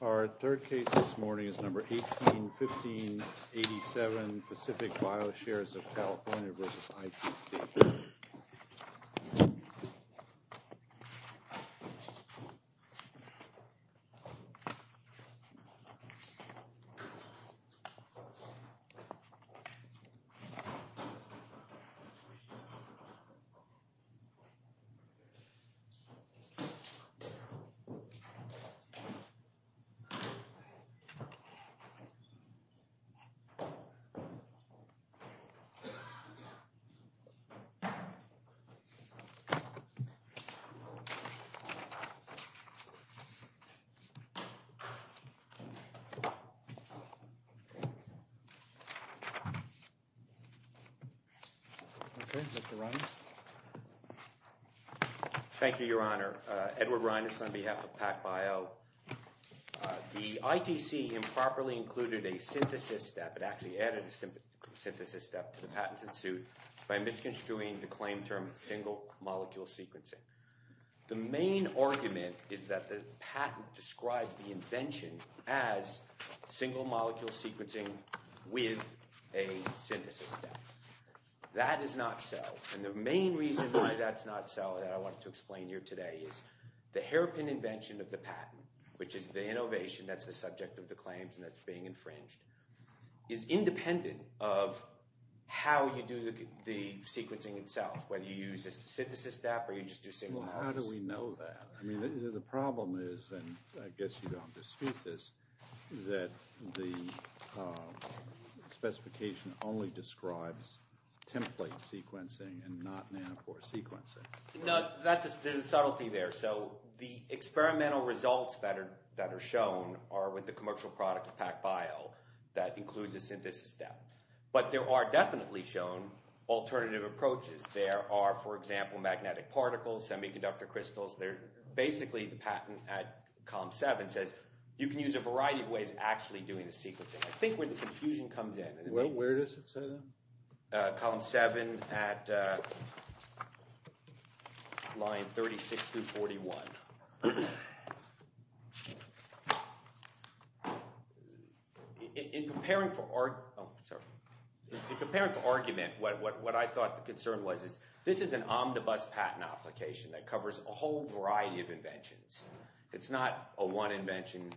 Our third case this morning is 18-15-87 Pacific Bioshares of CA v. ITC. Thank you, Your Honor. Thank you, Your Honor. Edward Reines on behalf of PAC-Bio. The ITC improperly included a synthesis step, it actually added a synthesis step to the patents in suit by misconstruing the claim term single molecule sequencing. The main argument is that the patent describes the invention as single molecule sequencing with a synthesis step. That is not so. And the main reason why that's not so, that I want to explain here today, is the hairpin invention of the patent, which is the innovation that's the subject of the claims and that's being infringed, is independent of how you do the sequencing itself, whether you use a synthesis step or you just do single molecules. Well, how do we know that? I mean, the problem is, and I guess you don't dispute this, that the specification only describes template sequencing and not nanopore sequencing. No, there's a subtlety there. So the experimental results that are shown are with the commercial product of PAC-Bio that includes a synthesis step. But there are definitely shown alternative approaches. There are, for example, magnetic particles, semiconductor crystals, basically the patent at column 7 says you can use a variety of ways of actually doing the sequencing. I think where the confusion comes in. Well, where does it say that? Column 7 at line 36 through 41. In preparing for argument, what I thought the concern was, this is an omnibus patent application that covers a whole variety of inventions. It's not a one invention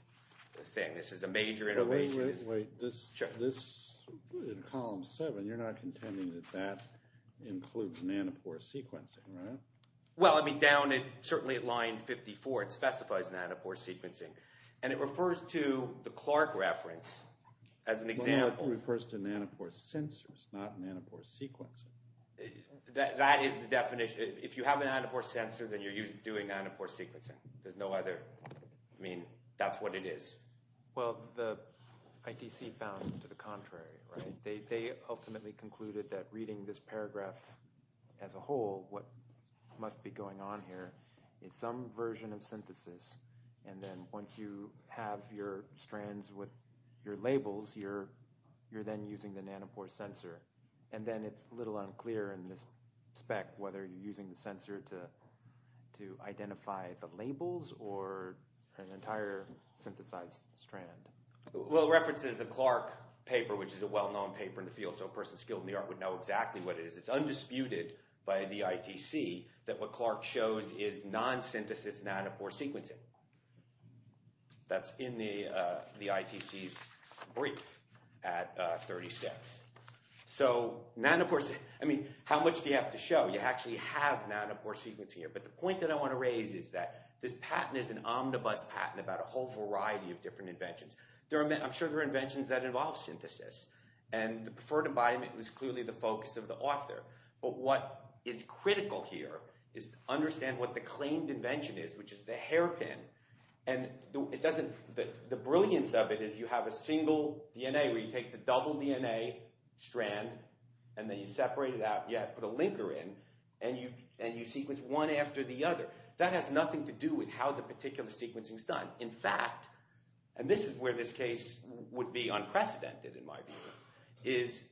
thing. This is a major innovation. Wait, wait. Sure. This, in column 7, you're not contending that that includes nanopore sequencing, right? Well, I mean, down at, certainly at line 54, it specifies nanopore sequencing. And it refers to the Clark reference as an example. Well, it refers to nanopore sensors, not nanopore sequencing. That is the definition. If you have a nanopore sensor, then you're doing nanopore sequencing. There's no other, I mean, that's what it is. Well, the ITC found to the contrary, right? They ultimately concluded that reading this paragraph as a whole, what must be going on here is some version of synthesis. And then once you have your strands with your labels, you're then using the nanopore sensor. And then it's a little unclear in this spec whether you're using the sensor to identify the labels or an entire synthesized strand. Well, it references the Clark paper, which is a well-known paper in the field. So a person skilled in the art would know exactly what it is. It's undisputed by the ITC that what Clark shows is non-synthesis nanopore sequencing. That's in the ITC's brief at 36. So, nanopore, I mean, how much do you have to show? You actually have nanopore sequencing here. But the point that I want to raise is that this patent is an omnibus patent about a whole variety of different inventions. I'm sure there are inventions that involve synthesis. And the preferred environment was clearly the focus of the author. But what is critical here is to understand what the claimed invention is, which is the hairpin. And it doesn't, the brilliance of it is you have a single DNA where you take the double DNA strand and then you separate it out, you put a linker in, and you sequence one after the other. That has nothing to do with how the particular sequencing is done. In fact, and this is where this case would be unprecedented in my view, is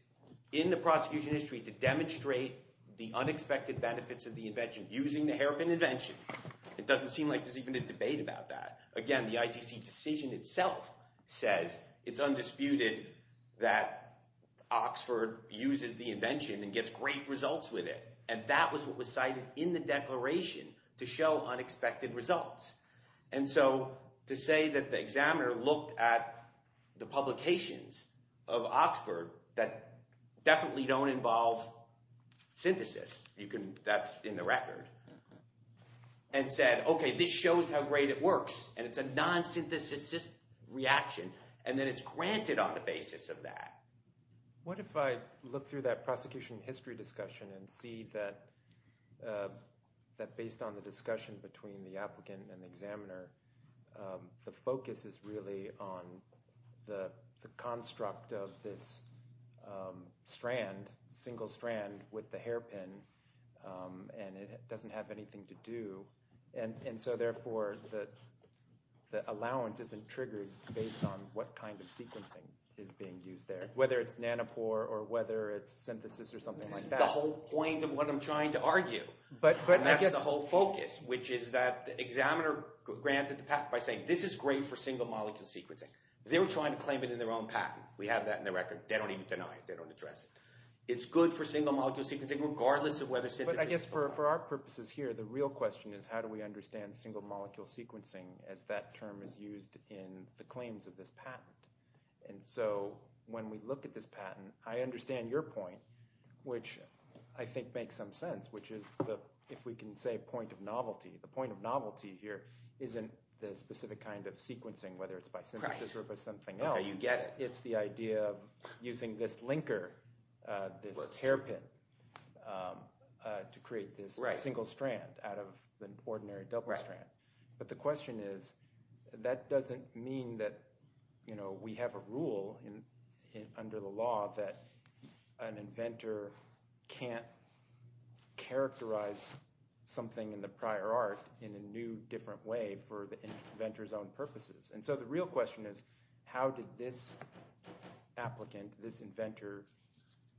in the prosecution history to demonstrate the unexpected benefits of the invention using the hairpin invention. It doesn't seem like there's even a debate about that. Again, the ITC decision itself says it's undisputed that Oxford uses the invention and gets great results with it. And that was what was cited in the declaration to show unexpected results. And so to say that the examiner looked at the publications of Oxford that definitely don't involve synthesis, that's in the record, and said, okay, this shows how great it works. And it's a non-synthesis reaction. And then it's granted on the basis of that. What if I look through that prosecution history discussion and see that based on the discussion between the applicant and the examiner, the focus is really on the construct of this strand, single strand with the hairpin, and it doesn't have anything to do. And so therefore the allowance isn't triggered based on what kind of sequencing is being used there, whether it's nanopore or whether it's synthesis or something like that. This is the whole point of what I'm trying to argue. And that's the whole focus, which is that the examiner granted the patent by saying this is great for single molecule sequencing. They were trying to claim it in their own patent. We have that in the record. They don't even deny it. They don't address it. It's good for single molecule sequencing regardless of whether synthesis is involved. But I guess for our purposes here, the real question is how do we understand single molecule sequencing as that term is used in the claims of this patent? And so when we look at this patent, I understand your point, which I think makes some sense, which is if we can say point of novelty, the point of novelty here isn't the specific kind of sequencing, whether it's by synthesis or by something else. Okay, you get it. It's the idea of using this linker, this hairpin to create this single strand out of an ordinary double strand. But the question is that doesn't mean that we have a rule under the law that an inventor can't characterize something in the prior art in a new, different way for the inventor's own purposes. And so the real question is how did this applicant, this inventor,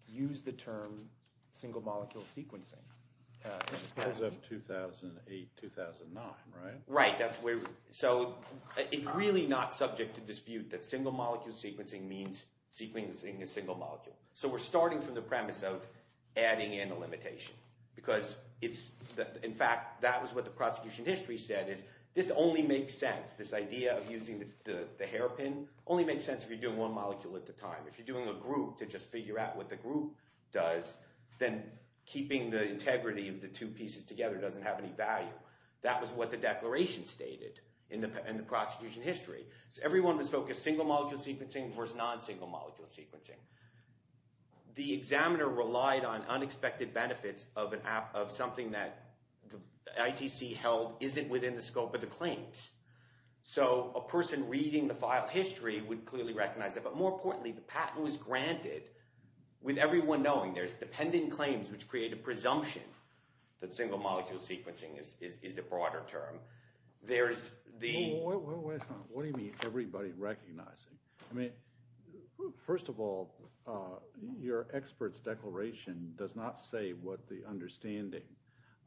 use the term single molecule sequencing? Because of 2008, 2009, right? Right. So it's really not subject to dispute that single molecule sequencing means sequencing a single molecule. So we're starting from the premise of adding in a limitation because it's – in fact, that was what the prosecution history said is this only makes sense. This idea of using the hairpin only makes sense if you're doing one molecule at a time. If you're doing a group to just figure out what the group does, then keeping the integrity of the two pieces together doesn't have any value. That was what the declaration stated in the prosecution history. So everyone was focused single molecule sequencing versus non-single molecule sequencing. The examiner relied on unexpected benefits of something that ITC held isn't within the scope of the claims. So a person reading the file history would clearly recognize that. But more importantly, the patent was granted with everyone knowing. There's the pending claims which create a presumption that single molecule sequencing is a broader term. There's the – What do you mean everybody recognizing? I mean, first of all, your expert's declaration does not say what the understanding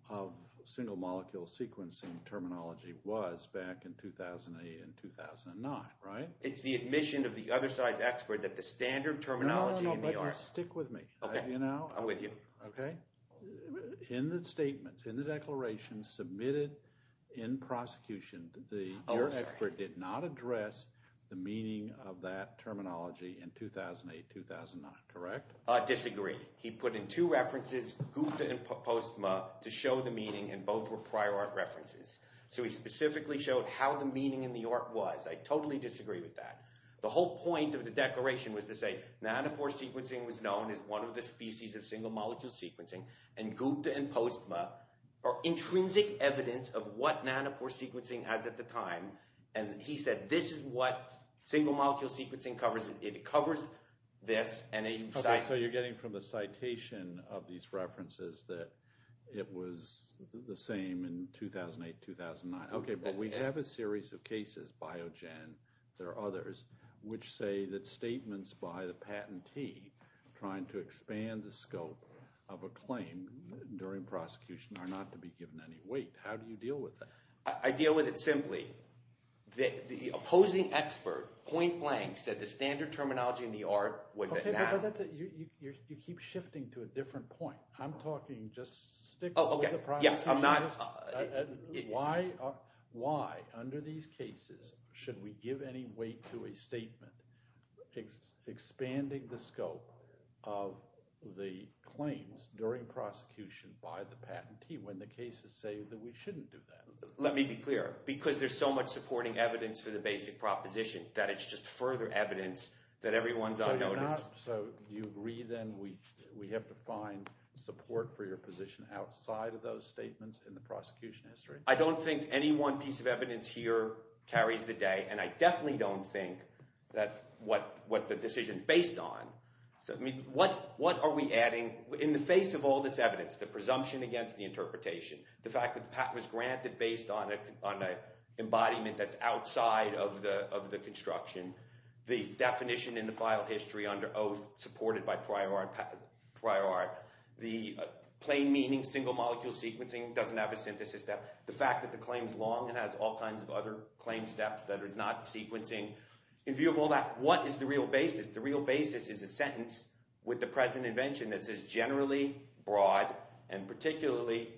of single molecule sequencing terminology was back in 2008 and 2009, right? It's the admission of the other side's expert that the standard terminology – No, no, but you stick with me. Okay. I'm with you. Okay? In the statements, in the declaration submitted in prosecution, your expert did not address the meaning of that terminology in 2008, 2009, correct? Disagree. He put in two references, GUPTA and POSTMA, to show the meaning, and both were prior art references. So he specifically showed how the meaning in the art was. I totally disagree with that. The whole point of the declaration was to say nanopore sequencing was known as one of the species of single molecule sequencing, and GUPTA and POSTMA are intrinsic evidence of what nanopore sequencing has at the time. And he said this is what single molecule sequencing covers. It covers this, and then you cite – Okay, so you're getting from the citation of these references that it was the same in 2008, 2009. Okay, but we have a series of cases, Biogen, there are others, which say that statements by the patentee trying to expand the scope of a claim during prosecution are not to be given any weight. How do you deal with that? I deal with it simply. The opposing expert, point blank, said the standard terminology in the art was that – Okay, but you keep shifting to a different point. I'm talking just stick with the prosecution. Yes, I'm not – Why under these cases should we give any weight to a statement expanding the scope of the claims during prosecution by the patentee when the cases say that we shouldn't do that? Let me be clear. Because there's so much supporting evidence for the basic proposition that it's just further evidence that everyone's on notice. So you agree then we have to find support for your position outside of those statements in the prosecution history? I don't think any one piece of evidence here carries the day, and I definitely don't think that what the decision's based on – I mean, what are we adding in the face of all this evidence, the presumption against the interpretation, the fact that the patent was granted based on an embodiment that's outside of the construction, the definition in the file history under oath supported by prior art, the plain meaning single-molecule sequencing doesn't have a synthesis step, the fact that the claim's long and has all kinds of other claim steps that are not sequencing. In view of all that, what is the real basis? The real basis is a sentence with the present invention that's as generally broad and particularly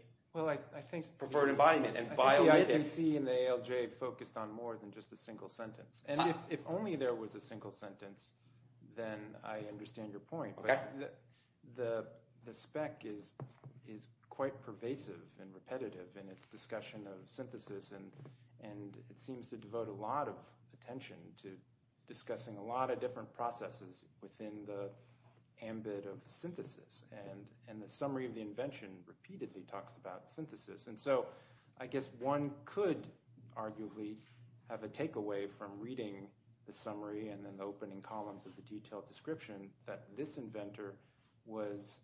preferred embodiment. I can see in the ALJ focused on more than just a single sentence. And if only there was a single sentence, then I understand your point. But the spec is quite pervasive and repetitive in its discussion of synthesis, and it seems to devote a lot of attention to discussing a lot of different processes within the ambit of synthesis. And the summary of the invention repeatedly talks about synthesis. And so I guess one could arguably have a takeaway from reading the summary and then the opening columns of the detailed description that this inventor was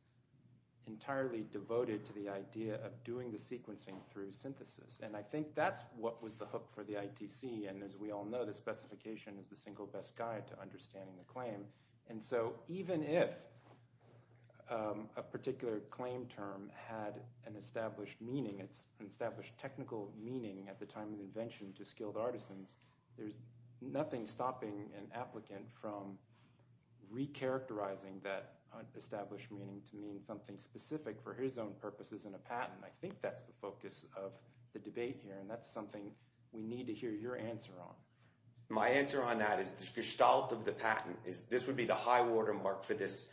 entirely devoted to the idea of doing the sequencing through synthesis. And I think that's what was the hook for the ITC. And as we all know, the specification is the single best guide to understanding the claim. And so even if a particular claim term had an established meaning, an established technical meaning at the time of invention to skilled artisans, there's nothing stopping an applicant from recharacterizing that established meaning to mean something specific for his own purposes in a patent. And I think that's the focus of the debate here, and that's something we need to hear your answer on. My answer on that is the gestalt of the patent is this would be the high watermark for this.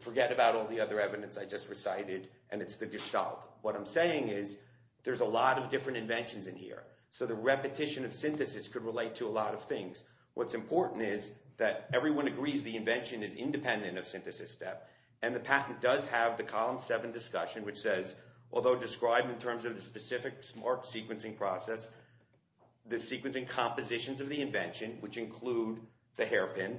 Forget about all the other evidence I just recited, and it's the gestalt. What I'm saying is there's a lot of different inventions in here, so the repetition of synthesis could relate to a lot of things. What's important is that everyone agrees the invention is independent of synthesis step, and the patent does have the column seven discussion, which says, although described in terms of the specific smart sequencing process, the sequencing compositions of the invention, which include the hairpin,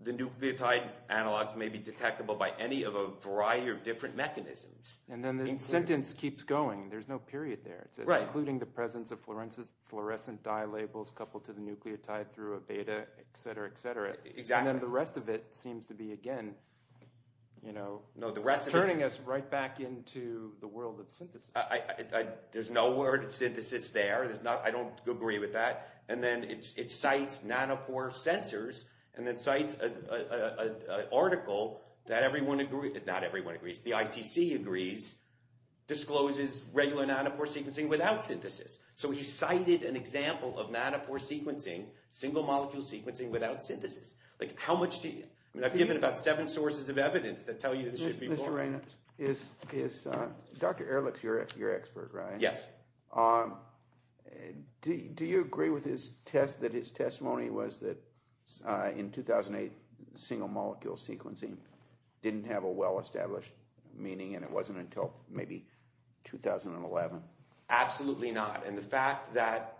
the nucleotide analogs may be detectable by any of a variety of different mechanisms. And then the sentence keeps going. There's no period there. It says including the presence of fluorescent dye labels coupled to the nucleotide through a beta, et cetera, et cetera. And then the rest of it seems to be, again, turning us right back into the world of synthesis. There's no word synthesis there. I don't agree with that. And then it cites nanopore sensors and then cites an article that everyone agrees – not everyone agrees. The ITC agrees, discloses regular nanopore sequencing without synthesis. So he cited an example of nanopore sequencing, single-molecule sequencing without synthesis. Like how much do you – I mean I've given about seven sources of evidence that tell you this should be more. Mr. Reynolds, is – Dr. Ehrlich is your expert, right? Yes. Do you agree with his test that his testimony was that in 2008, single-molecule sequencing didn't have a well-established meaning and it wasn't until maybe 2011? Absolutely not. And the fact that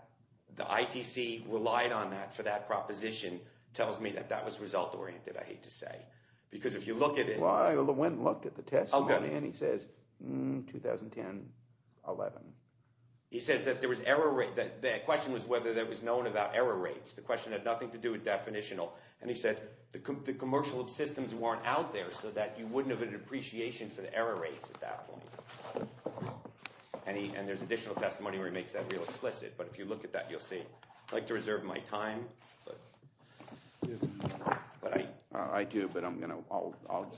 the ITC relied on that for that proposition tells me that that was result-oriented, I hate to say. Because if you look at it – Well, I went and looked at the testimony and he says, hmm, 2010, 11. He says that there was error – the question was whether there was no one about error rates. The question had nothing to do with definitional. And he said the commercial systems weren't out there so that you wouldn't have an appreciation for the error rates at that point. And there's additional testimony where he makes that real explicit. But if you look at that, you'll see. I'd like to reserve my time. I do, but I'll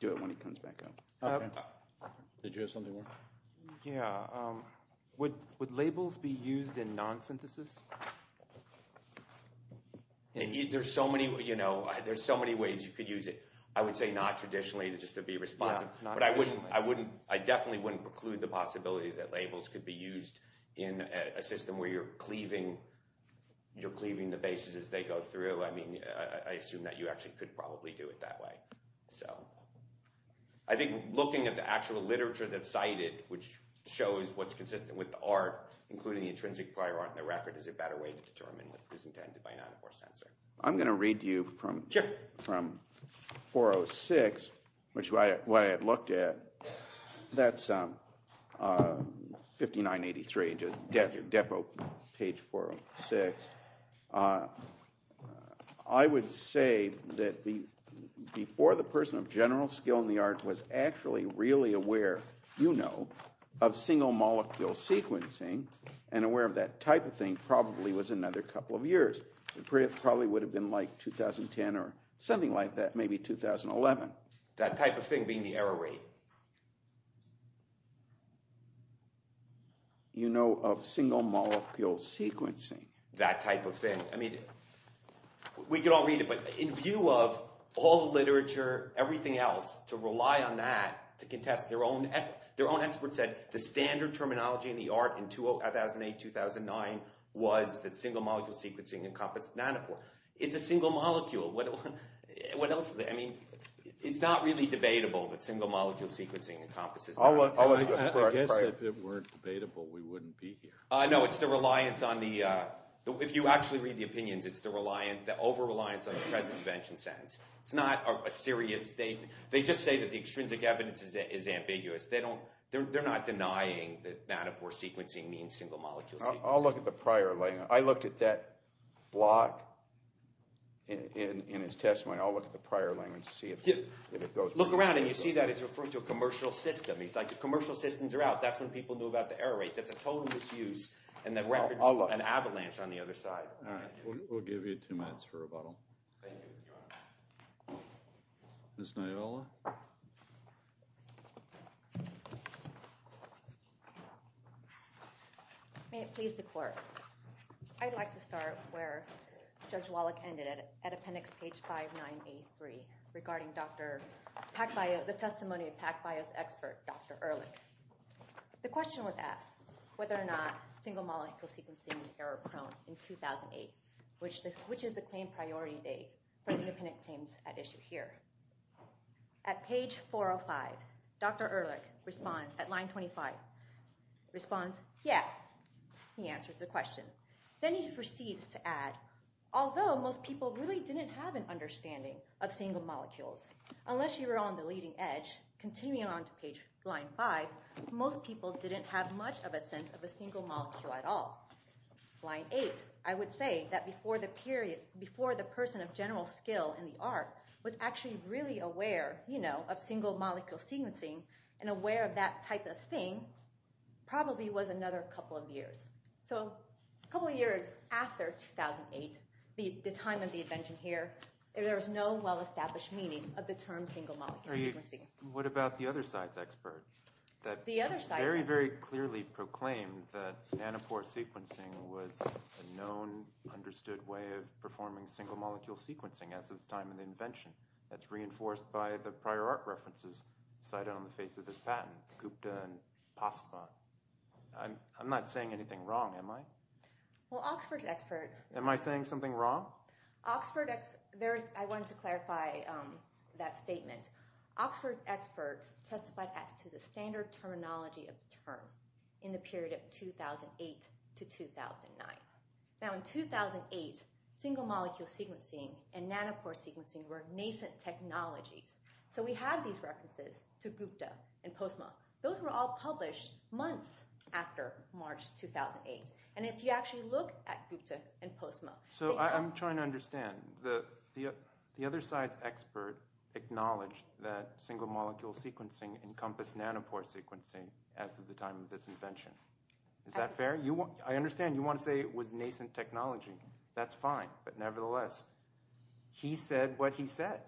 do it when he comes back up. Did you have something more? Yeah. Would labels be used in non-synthesis? There's so many ways you could use it. I would say not traditionally just to be responsive. But I definitely wouldn't preclude the possibility that labels could be used in a system where you're cleaving the bases as they go through. I mean, I assume that you actually could probably do it that way. So I think looking at the actual literature that's cited, which shows what's consistent with the art, including the intrinsic prior art in the record, is a better way to determine what is intended by a non-reverse sensor. I'm going to read to you from 406, which is what I had looked at. That's 5983, Depo, page 406. I would say that before the person of general skill in the art was actually really aware, you know, of single molecule sequencing and aware of that type of thing probably was another couple of years. It probably would have been like 2010 or something like that, maybe 2011. That type of thing being the error rate. You know of single molecule sequencing. That type of thing. We could all read it, but in view of all the literature, everything else, to rely on that to contest their own experts said the standard terminology in the art in 2008-2009 was that single molecule sequencing encompassed nanopore. It's a single molecule. What else is there? I mean, it's not really debatable that single molecule sequencing encompasses nanopore. I guess if it weren't debatable, we wouldn't be here. No, it's the reliance on the, if you actually read the opinions, it's the over-reliance on the present invention sentence. It's not a serious statement. They just say that the extrinsic evidence is ambiguous. They're not denying that nanopore sequencing means single molecule sequencing. I'll look at the prior. I looked at that block in his testimony. I'll look at the prior language to see if it goes. Look around and you see that it's referring to a commercial system. He's like the commercial systems are out. That's when people knew about the error rate. That's a total misuse and that records an avalanche on the other side. All right. We'll give you two minutes for rebuttal. Thank you, Your Honor. Ms. Nayella. May it please the court. I'd like to start where Judge Wallach ended at, at appendix page 5983, regarding Dr. Packbio, the testimony of Packbio's expert, Dr. Erlich. The question was asked whether or not single molecule sequencing is error prone in 2008, which is the claim priority date for the independent claims at issue here. At page 405, Dr. Erlich responds at line 25, responds, yeah. He answers the question. Then he proceeds to add, although most people really didn't have an understanding of single molecules, unless you were on the leading edge, continuing on to page line 5, most people didn't have much of a sense of a single molecule at all. Line 8, I would say that before the person of general skill in the art was actually really aware, you know, of single molecule sequencing and aware of that type of thing, probably was another couple of years. So a couple of years after 2008, the time of the invention here, there was no well-established meaning of the term single molecule sequencing. What about the other side's expert? The other side's expert. That very, very clearly proclaimed that nanopore sequencing was a known, understood way of performing single molecule sequencing as of the time of the invention. That's reinforced by the prior art references cited on the face of this patent, Gupta and Postma. I'm not saying anything wrong, am I? Well, Oxford's expert. Am I saying something wrong? Oxford, I wanted to clarify that statement. Oxford's expert testified as to the standard terminology of the term in the period of 2008 to 2009. Now in 2008, single molecule sequencing and nanopore sequencing were nascent technologies. So we have these references to Gupta and Postma. Those were all published months after March 2008. And if you actually look at Gupta and Postma. So I'm trying to understand. The other side's expert acknowledged that single molecule sequencing encompassed nanopore sequencing as of the time of this invention. Is that fair? I understand you want to say it was nascent technology. That's fine. But nevertheless, he said what he said.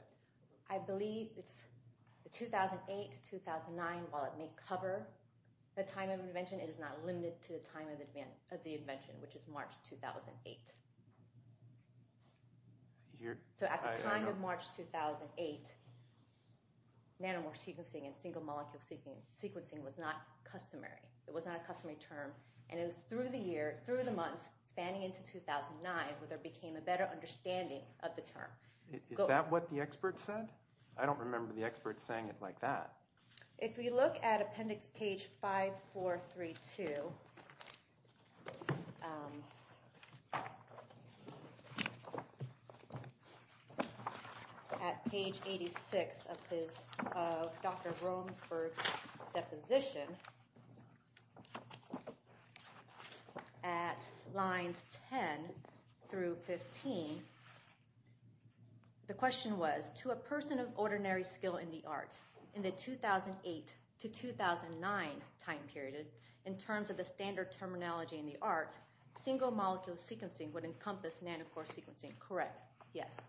I believe it's 2008 to 2009. While it may cover the time of invention, it is not limited to the time of the invention, which is March 2008. So at the time of March 2008, nanopore sequencing and single molecule sequencing was not customary. It was not a customary term. And it was through the year, through the months, spanning into 2009 where there became a better understanding of the term. Is that what the expert said? I don't remember the expert saying it like that. If we look at appendix page 5432. At page 86 of Dr. Romsberg's deposition. At lines 10 through 15. The question was, to a person of ordinary skill in the art, in the 2008 to 2009 time period, in terms of the standard terminology in the art, single molecule sequencing would encompass nanopore sequencing. Correct. Yes.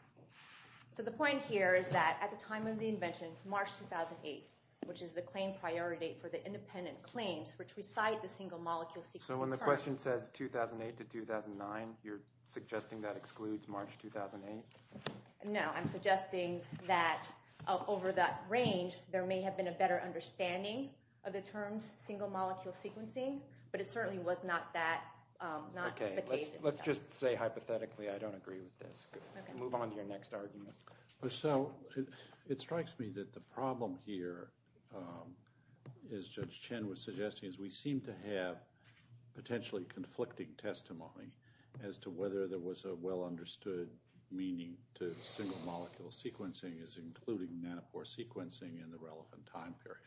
So the point here is that at the time of the invention, March 2008, which is the claim priority date for the independent claims which recite the single molecule sequencing term. The question says 2008 to 2009. You're suggesting that excludes March 2008? No, I'm suggesting that over that range, there may have been a better understanding of the terms single molecule sequencing. But it certainly was not the case. Let's just say hypothetically I don't agree with this. Move on to your next argument. So it strikes me that the problem here, as Judge Chen was suggesting, is we seem to have potentially conflicting testimony as to whether there was a well understood meaning to single molecule sequencing as including nanopore sequencing in the relevant time period.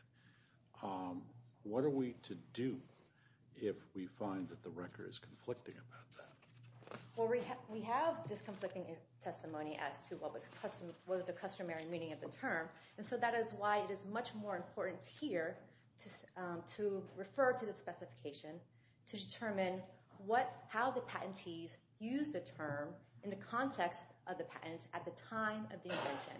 What are we to do if we find that the record is conflicting about that? Well, we have this conflicting testimony as to what was the customary meaning of the term. And so that is why it is much more important here to refer to the specification to determine how the patentees used the term in the context of the patent at the time of the invention.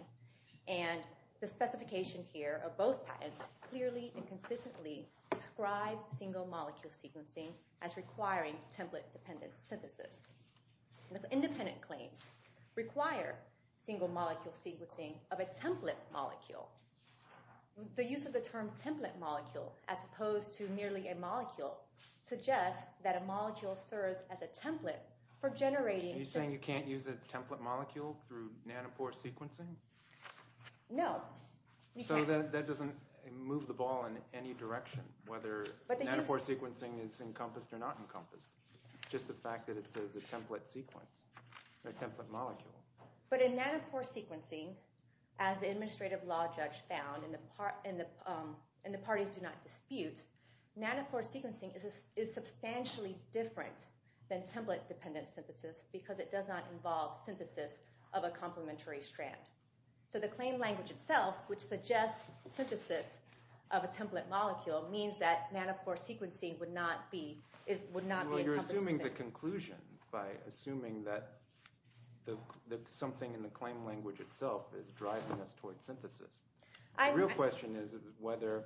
And the specification here of both patents clearly and consistently describe single molecule sequencing as requiring template-dependent synthesis. The independent claims require single molecule sequencing of a template molecule. The use of the term template molecule as opposed to merely a molecule suggests that a molecule serves as a template for generating… No. So that doesn't move the ball in any direction whether nanopore sequencing is encompassed or not encompassed. Just the fact that it says a template sequence, a template molecule. But in nanopore sequencing, as the administrative law judge found and the parties do not dispute, nanopore sequencing is substantially different than template-dependent synthesis because it does not involve synthesis of a complementary strand. So the claim language itself, which suggests synthesis of a template molecule, means that nanopore sequencing would not be encompassed. You're assuming the conclusion by assuming that something in the claim language itself is driving us toward synthesis. The real question is whether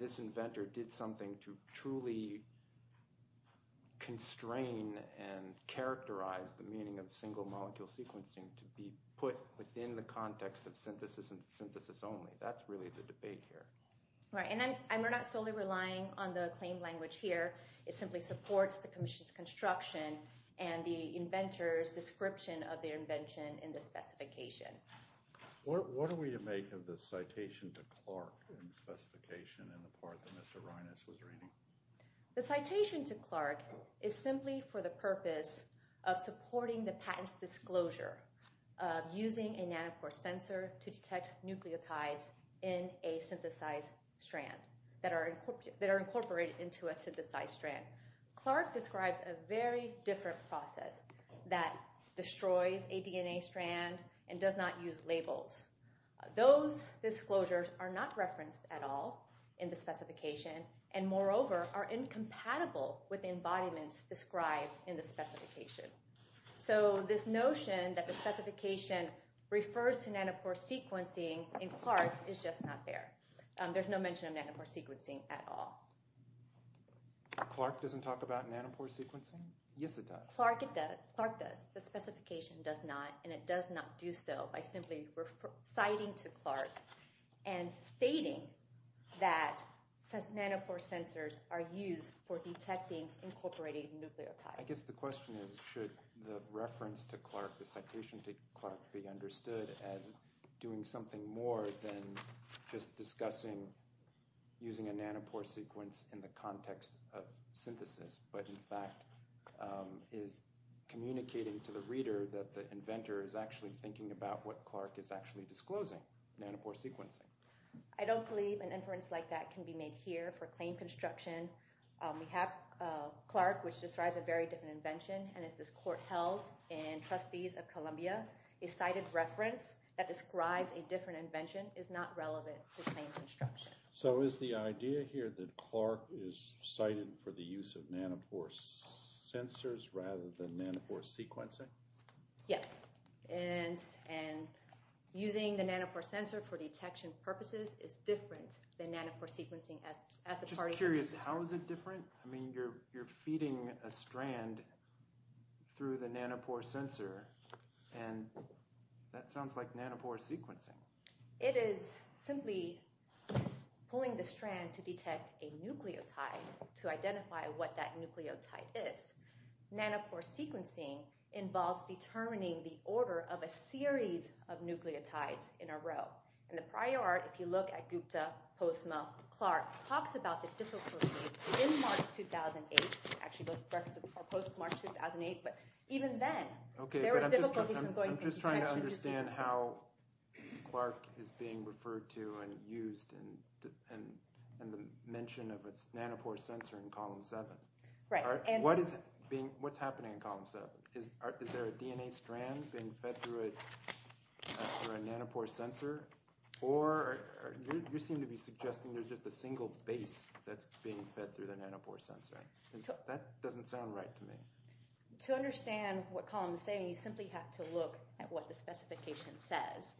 this inventor did something to truly constrain and characterize the meaning of single molecule sequencing to be put within the context of synthesis and synthesis only. That's really the debate here. And we're not solely relying on the claim language here. It simply supports the commission's construction and the inventor's description of their invention in the specification. What do we make of the citation to Clark in the specification in the part that Mr. Reines was reading? The citation to Clark is simply for the purpose of supporting the patent's disclosure of using a nanopore sensor to detect nucleotides in a synthesized strand that are incorporated into a synthesized strand. Clark describes a very different process that destroys a DNA strand and does not use labels. Those disclosures are not referenced at all in the specification and, moreover, are incompatible with embodiments described in the specification. So this notion that the specification refers to nanopore sequencing in Clark is just not there. There's no mention of nanopore sequencing at all. Clark doesn't talk about nanopore sequencing? Yes, it does. Clark does. The specification does not. And it does not do so by simply citing to Clark and stating that nanopore sensors are used for detecting incorporated nucleotides. I guess the question is should the reference to Clark, the citation to Clark, be understood as doing something more than just discussing using a nanopore sequence in the context of synthesis but, in fact, is communicating to the reader that the inventor is actually thinking about what Clark is actually disclosing, nanopore sequencing. I don't believe an inference like that can be made here for claim construction. We have Clark, which describes a very different invention, and it's this court held in Trustees of Columbia. A cited reference that describes a different invention is not relevant to claim construction. So is the idea here that Clark is cited for the use of nanopore sensors rather than nanopore sequencing? Yes. And using the nanopore sensor for detection purposes is different than nanopore sequencing as the parties are using it. I'm just curious. How is it different? I mean, you're feeding a strand through the nanopore sensor, and that sounds like nanopore sequencing. It is simply pulling the strand to detect a nucleotide to identify what that nucleotide is. Nanopore sequencing involves determining the order of a series of nucleotides in a row. And the prior art, if you look at Gupta, Postma, Clark, talks about the difficulty in March 2008. Actually, those references are post-March 2008. I'm just trying to understand how Clark is being referred to and used in the mention of its nanopore sensor in column 7. What's happening in column 7? Is there a DNA strand being fed through a nanopore sensor? Or you seem to be suggesting there's just a single base that's being fed through the nanopore sensor. That doesn't sound right to me. To understand what column 7 is, you simply have to look at what the specification says.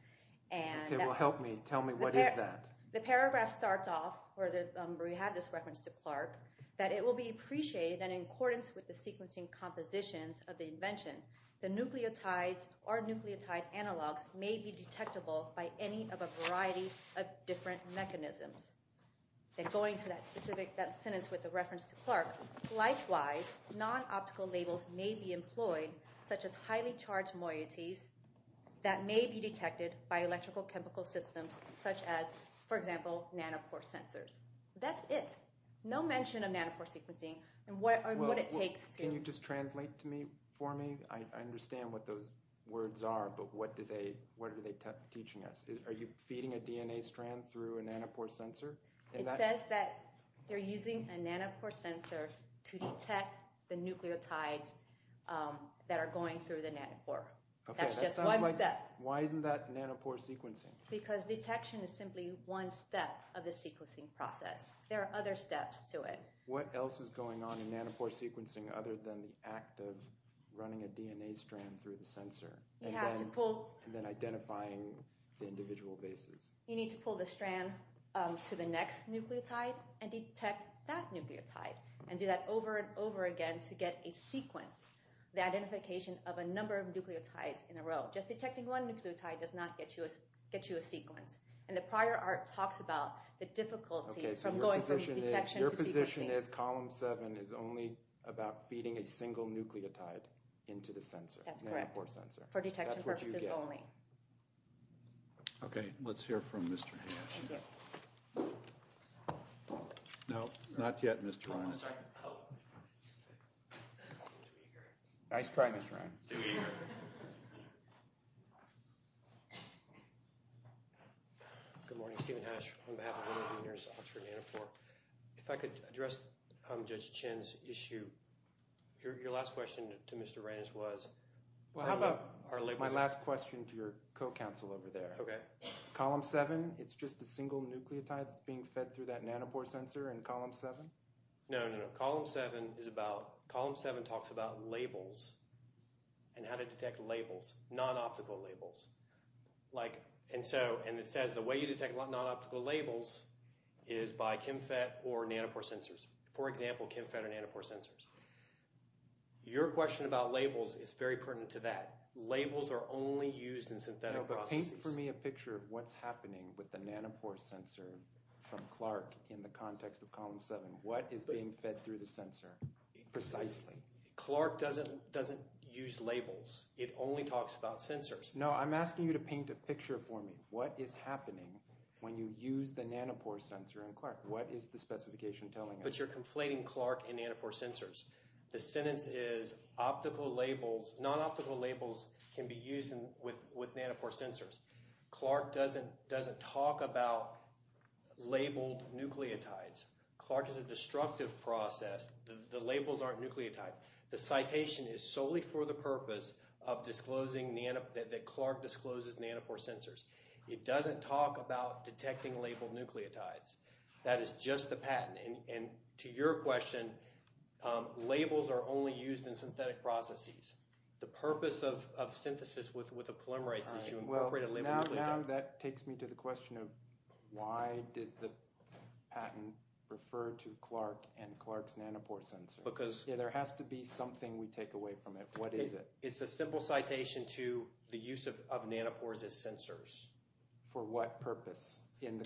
Okay, well, help me. Tell me what is that? The paragraph starts off where we have this reference to Clark that it will be appreciated that in accordance with the sequencing compositions of the invention, the nucleotides or nucleotide analogs may be detectable by any of a variety of different mechanisms. And going to that specific sentence with the reference to Clark, likewise, non-optical labels may be employed, such as highly charged moieties, that may be detected by electrical chemical systems such as, for example, nanopore sensors. That's it. No mention of nanopore sequencing and what it takes to— Can you just translate for me? I understand what those words are, but what are they teaching us? Are you feeding a DNA strand through a nanopore sensor? It says that you're using a nanopore sensor to detect the nucleotides that are going through the nanopore. That's just one step. Why isn't that nanopore sequencing? Because detection is simply one step of the sequencing process. There are other steps to it. What else is going on in nanopore sequencing other than the act of running a DNA strand through the sensor? You have to pull— And then identifying the individual bases. You need to pull the strand to the next nucleotide and detect that nucleotide and do that over and over again to get a sequence, the identification of a number of nucleotides in a row. Just detecting one nucleotide does not get you a sequence. And the prior art talks about the difficulties from going from detection to sequencing. Your position is column seven is only about feeding a single nucleotide into the sensor, nanopore sensor. That's correct. Nanopore detection purposes only. Okay, let's hear from Mr. Hash. No, not yet, Mr. Reines. Nice try, Mr. Reines. Too eager. Good morning. Stephen Hash on behalf of one of the leaders of Oxford Nanopore. If I could address Judge Chin's issue. Your last question to Mr. Reines was— My last question to your co-counsel over there. Okay. Column seven, it's just a single nucleotide that's being fed through that nanopore sensor in column seven? No, no, no. Column seven talks about labels and how to detect labels, non-optical labels. And it says the way you detect non-optical labels is by ChemFET or nanopore sensors. For example, ChemFET or nanopore sensors. Your question about labels is very pertinent to that. Labels are only used in synthetic processes. No, but paint for me a picture of what's happening with the nanopore sensor from Clark in the context of column seven. What is being fed through the sensor precisely? Clark doesn't use labels. It only talks about sensors. No, I'm asking you to paint a picture for me. What is happening when you use the nanopore sensor in Clark? What is the specification telling us? But you're conflating Clark and nanopore sensors. The sentence is non-optical labels can be used with nanopore sensors. Clark doesn't talk about labeled nucleotides. Clark is a destructive process. The labels aren't nucleotide. The citation is solely for the purpose that Clark discloses nanopore sensors. It doesn't talk about detecting labeled nucleotides. That is just the patent. And to your question, labels are only used in synthetic processes. The purpose of synthesis with a polymerase is you incorporate a labeled nucleotide. Now that takes me to the question of why did the patent refer to Clark and Clark's nanopore sensor? Because – There has to be something we take away from it. What is it? It's a simple citation to the use of nanopores as sensors. For what purpose in the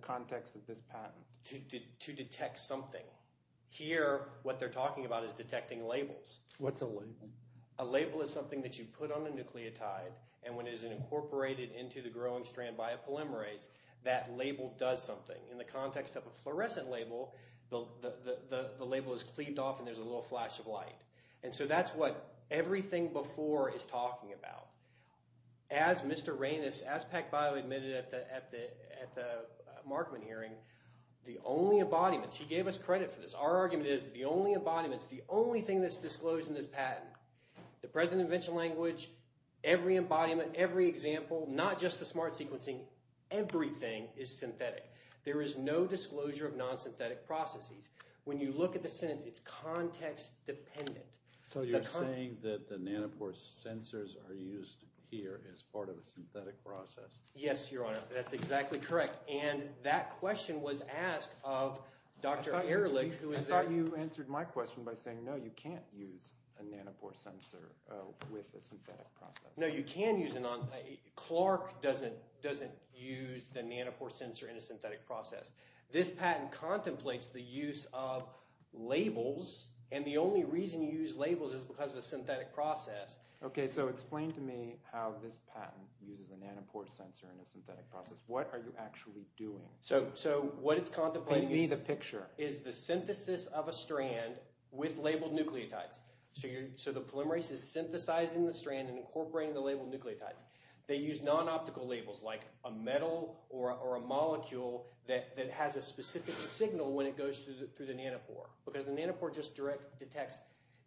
context of this patent? To detect something. Here what they're talking about is detecting labels. What's a label? A label is something that you put on a nucleotide, and when it is incorporated into the growing strand by a polymerase, that label does something. In the context of a fluorescent label, the label is cleaved off and there's a little flash of light. And so that's what everything before is talking about. As Mr. Reines, as PacBio admitted at the Markman hearing, the only embodiments – he gave us credit for this. Our argument is that the only embodiments, the only thing that's disclosed in this patent, the present invention language, every embodiment, every example, not just the smart sequencing, everything is synthetic. There is no disclosure of non-synthetic processes. When you look at the sentence, it's context-dependent. So you're saying that the nanopore sensors are used here as part of a synthetic process? Yes, Your Honor. That's exactly correct. And that question was asked of Dr. Ehrlich, who is – I thought you answered my question by saying, no, you can't use a nanopore sensor with a synthetic process. No, you can use a – Clark doesn't use the nanopore sensor in a synthetic process. This patent contemplates the use of labels, and the only reason you use labels is because of a synthetic process. Okay, so explain to me how this patent uses a nanopore sensor in a synthetic process. What are you actually doing? So what it's contemplating is the synthesis of a strand with labeled nucleotides. So the polymerase is synthesizing the strand and incorporating the labeled nucleotides. They use non-optical labels like a metal or a molecule that has a specific signal when it goes through the nanopore because the nanopore just detects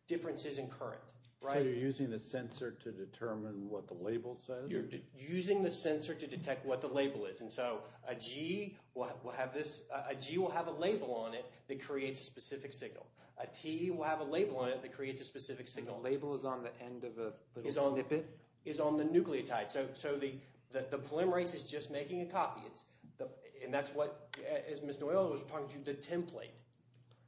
differences in current. So you're using the sensor to determine what the label says? You're using the sensor to detect what the label is. And so a G will have this – a G will have a label on it that creates a specific signal. A T will have a label on it that creates a specific signal. A label is on the end of a – Is on the bit? Is on the nucleotide. So the polymerase is just making a copy, and that's what – as Ms. Noelle was talking to you, the template.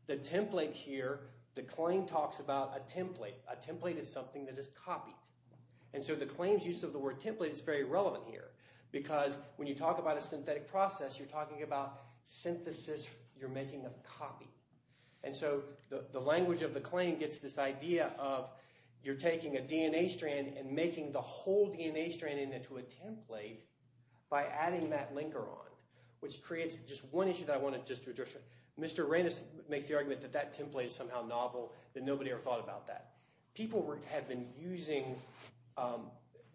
The template here, the claim talks about a template. A template is something that is copied. And so the claims use of the word template is very relevant here because when you talk about a synthetic process, You're making a copy. And so the language of the claim gets this idea of you're taking a DNA strand and making the whole DNA strand into a template by adding that linker on, which creates just one issue that I want to just address. Mr. Reines makes the argument that that template is somehow novel, that nobody ever thought about that. People have been using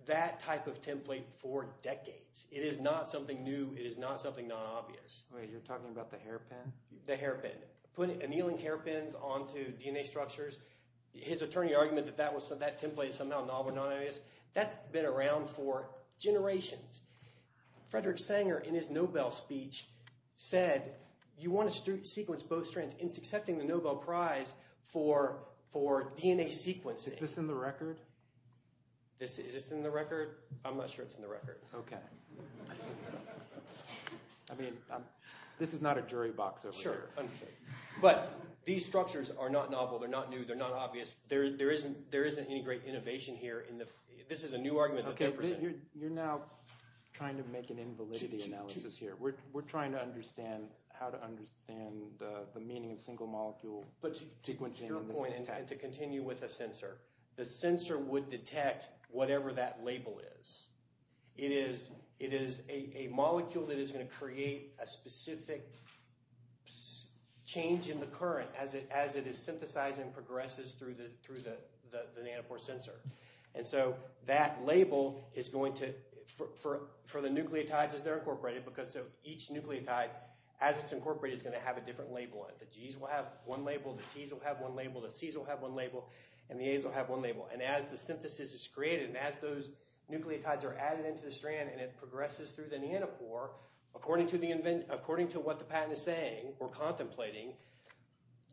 that type of template for decades. It is not something new. It is not something non-obvious. Wait, you're talking about the hairpin? The hairpin. Annealing hairpins onto DNA structures. His attorney argued that that template is somehow novel, not obvious. That's been around for generations. Frederick Sanger, in his Nobel speech, said you want to sequence both strands. It's accepting the Nobel Prize for DNA sequencing. Is this in the record? Is this in the record? I'm not sure it's in the record. Okay. I mean, this is not a jury box over here. Sure. But these structures are not novel. They're not new. They're not obvious. There isn't any great innovation here. This is a new argument that they're presenting. Okay, you're now trying to make an invalidity analysis here. We're trying to understand how to understand the meaning of single-molecule sequencing. But to your point, and to continue with the sensor, the sensor would detect whatever that label is. It is a molecule that is going to create a specific change in the current as it is synthesized and progresses through the nanopore sensor. And so that label is going to – for the nucleotides as they're incorporated, because each nucleotide, as it's incorporated, is going to have a different label on it. The G's will have one label. The T's will have one label. The C's will have one label. And the A's will have one label. And as the synthesis is created and as those nucleotides are added into the strand and it progresses through the nanopore, according to what the patent is saying or contemplating,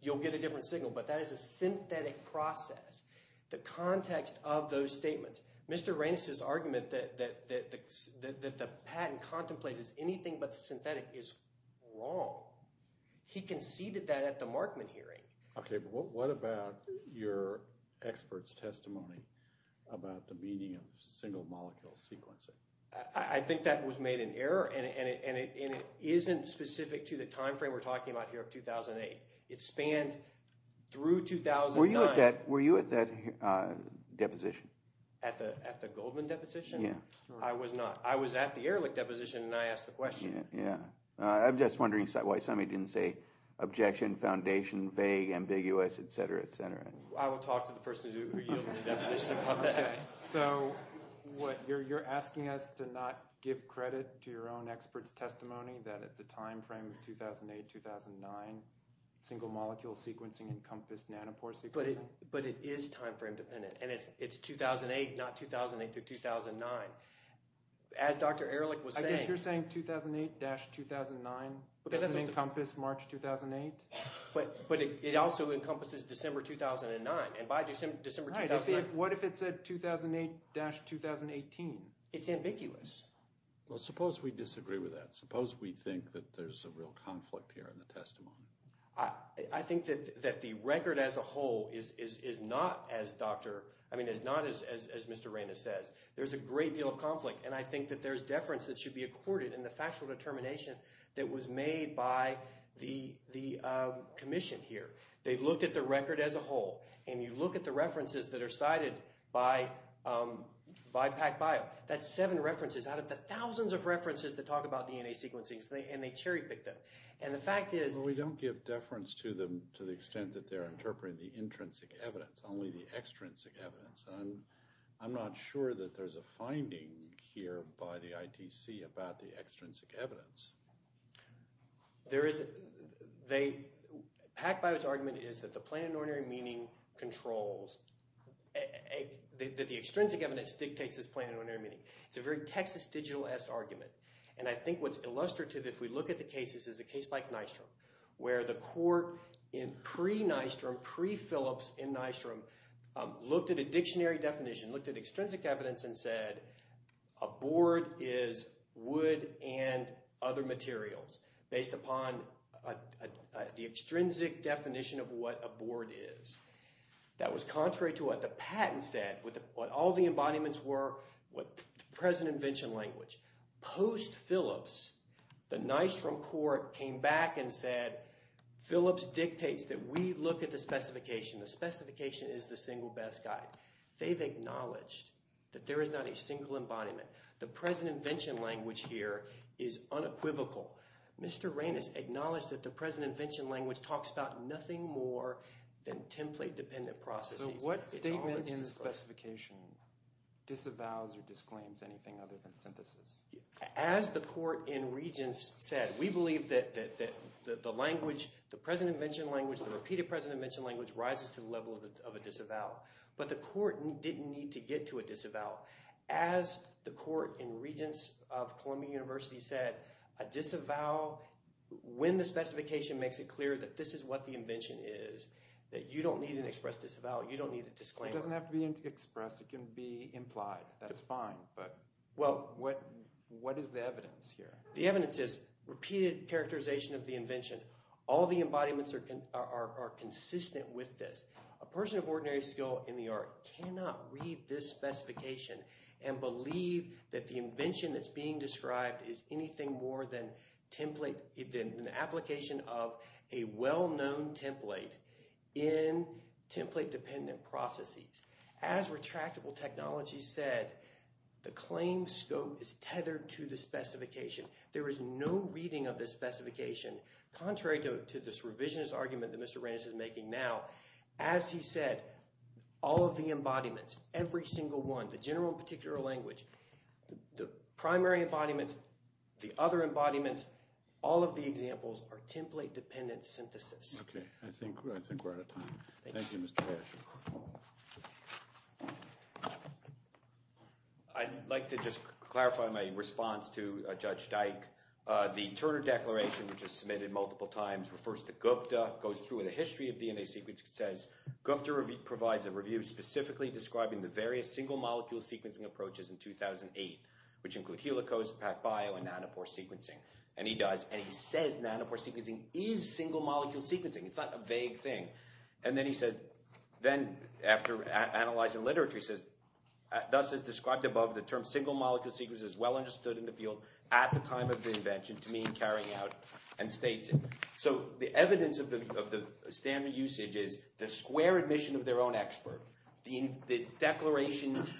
you'll get a different signal. But that is a synthetic process. The context of those statements – Mr. Reines' argument that the patent contemplates anything but the synthetic is wrong. He conceded that at the Markman hearing. Okay, but what about your expert's testimony about the meaning of single-molecule sequencing? I think that was made in error, and it isn't specific to the timeframe we're talking about here of 2008. It spans through 2009. Were you at that deposition? At the Goldman deposition? Yeah. I was not. I was at the Ehrlich deposition, and I asked the question. I'm just wondering why somebody didn't say objection, foundation, vague, ambiguous, et cetera, et cetera. I will talk to the person who yields the deposition about that. So you're asking us to not give credit to your own expert's testimony that at the timeframe of 2008-2009, single-molecule sequencing encompassed nanopore sequencing? But it is timeframe-dependent, and it's 2008, not 2008-2009. As Dr. Ehrlich was saying— I guess you're saying 2008-2009 doesn't encompass March 2008. But it also encompasses December 2009, and by December 2009— Right. What if it said 2008-2018? It's ambiguous. Well, suppose we disagree with that. Suppose we think that there's a real conflict here in the testimony. I think that the record as a whole is not, as Dr. – I mean is not, as Mr. Ramos says. There's a great deal of conflict, and I think that there's deference that should be accorded in the factual determination that was made by the commission here. They've looked at the record as a whole, and you look at the references that are cited by PacBio. That's seven references out of the thousands of references that talk about DNA sequencing, and they cherry-pick them. And the fact is— Well, we don't give deference to them to the extent that they're interpreting the intrinsic evidence, only the extrinsic evidence. And I'm not sure that there's a finding here by the ITC about the extrinsic evidence. There is. PacBio's argument is that the plain and ordinary meaning controls – that the extrinsic evidence dictates this plain and ordinary meaning. It's a very Texas Digital-esque argument. And I think what's illustrative if we look at the cases is a case like Nystrom where the court in pre-Nystrom, pre-Phillips in Nystrom, looked at a dictionary definition, looked at extrinsic evidence and said a board is wood and other materials based upon the extrinsic definition of what a board is. That was contrary to what the patent said, what all the embodiments were, what the present invention language. Post-Phillips, the Nystrom court came back and said Phillips dictates that we look at the specification. The specification is the single best guide. They've acknowledged that there is not a single embodiment. The present invention language here is unequivocal. Mr. Raines acknowledged that the present invention language talks about nothing more than template-dependent processes. So what statement in the specification disavows or disclaims anything other than synthesis? As the court in Regents said, we believe that the language, the present invention language, the repeated present invention language rises to the level of a disavowal. But the court didn't need to get to a disavowal. As the court in Regents of Columbia University said, a disavowal, when the specification makes it clear that this is what the invention is, that you don't need an express disavowal. You don't need a disclaimer. It doesn't have to be expressed. It can be implied. That's fine. But what is the evidence here? The evidence is repeated characterization of the invention. All the embodiments are consistent with this. A person of ordinary skill in the art cannot read this specification and believe that the invention that's being described is anything more than an application of a well-known template in template-dependent processes. As retractable technology said, the claim scope is tethered to the specification. There is no reading of this specification. Contrary to this revisionist argument that Mr. Reines is making now, as he said, all of the embodiments, every single one, the general and particular language, the primary embodiments, the other embodiments, all of the examples are template-dependent synthesis. Okay. I think we're out of time. Thank you, Mr. Harris. I'd like to just clarify my response to Judge Dyke. The Turner Declaration, which was submitted multiple times, refers to Gupta, goes through the history of DNA sequence, says Gupta provides a review specifically describing the various single-molecule sequencing approaches in 2008, which include helicose, PacBio, and nanopore sequencing. And he does, and he says nanopore sequencing is single-molecule sequencing. It's not a vague thing. And then he said, then after analyzing literature, he says, thus as described above, the term single-molecule sequencing is well understood in the field at the time of the invention to mean carrying out and states it. So the evidence of the standard usage is the square admission of their own expert, the declarations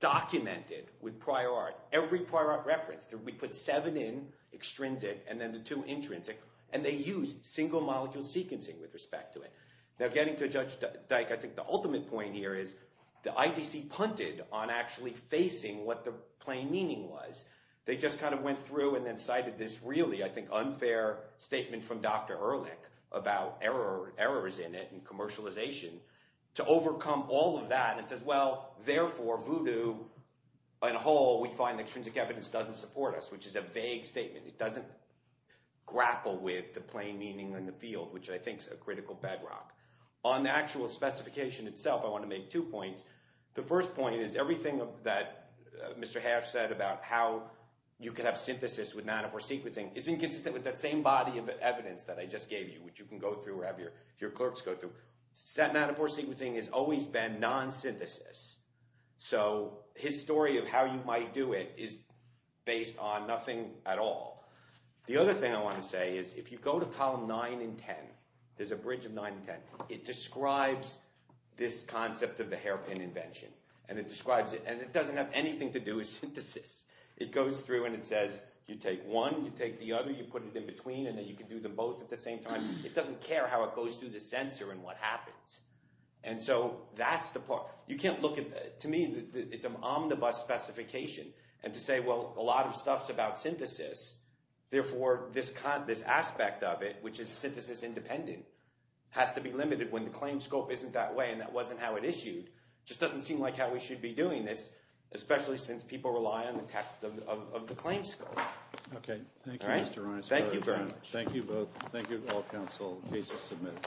documented with prior art, every prior art reference. We put seven in, extrinsic, and then the two intrinsic, and they use single-molecule sequencing with respect to it. Now getting to Judge Dyke, I think the ultimate point here is the IDC punted on actually facing what the plain meaning was. They just kind of went through and then cited this really, I think, unfair statement from Dr. Ehrlich about errors in it and commercialization to overcome all of that. And it says, well, therefore, voodoo on a whole, we find that extrinsic evidence doesn't support us, which is a vague statement. It doesn't grapple with the plain meaning in the field, which I think is a critical bedrock. On the actual specification itself, I want to make two points. The first point is everything that Mr. Hash said about how you can have synthesis with nanopore sequencing isn't consistent with that same body of evidence that I just gave you, which you can go through or have your clerks go through. Statin nanopore sequencing has always been non-synthesis. So his story of how you might do it is based on nothing at all. The other thing I want to say is if you go to column 9 and 10, there's a bridge of 9 and 10, it describes this concept of the hairpin invention. And it describes it, and it doesn't have anything to do with synthesis. It goes through and it says you take one, you take the other, you put it in between, and then you can do them both at the same time. It doesn't care how it goes through the sensor and what happens. And so that's the part. You can't look at it. To me, it's an omnibus specification. And to say, well, a lot of stuff's about synthesis, therefore this aspect of it, which is synthesis independent, has to be limited when the claim scope isn't that way and that wasn't how it issued, just doesn't seem like how we should be doing this, especially since people rely on the text of the claim scope. Okay. Thank you, Mr. Reines. Thank you very much. Thank you both. Thank you to all council cases submitted.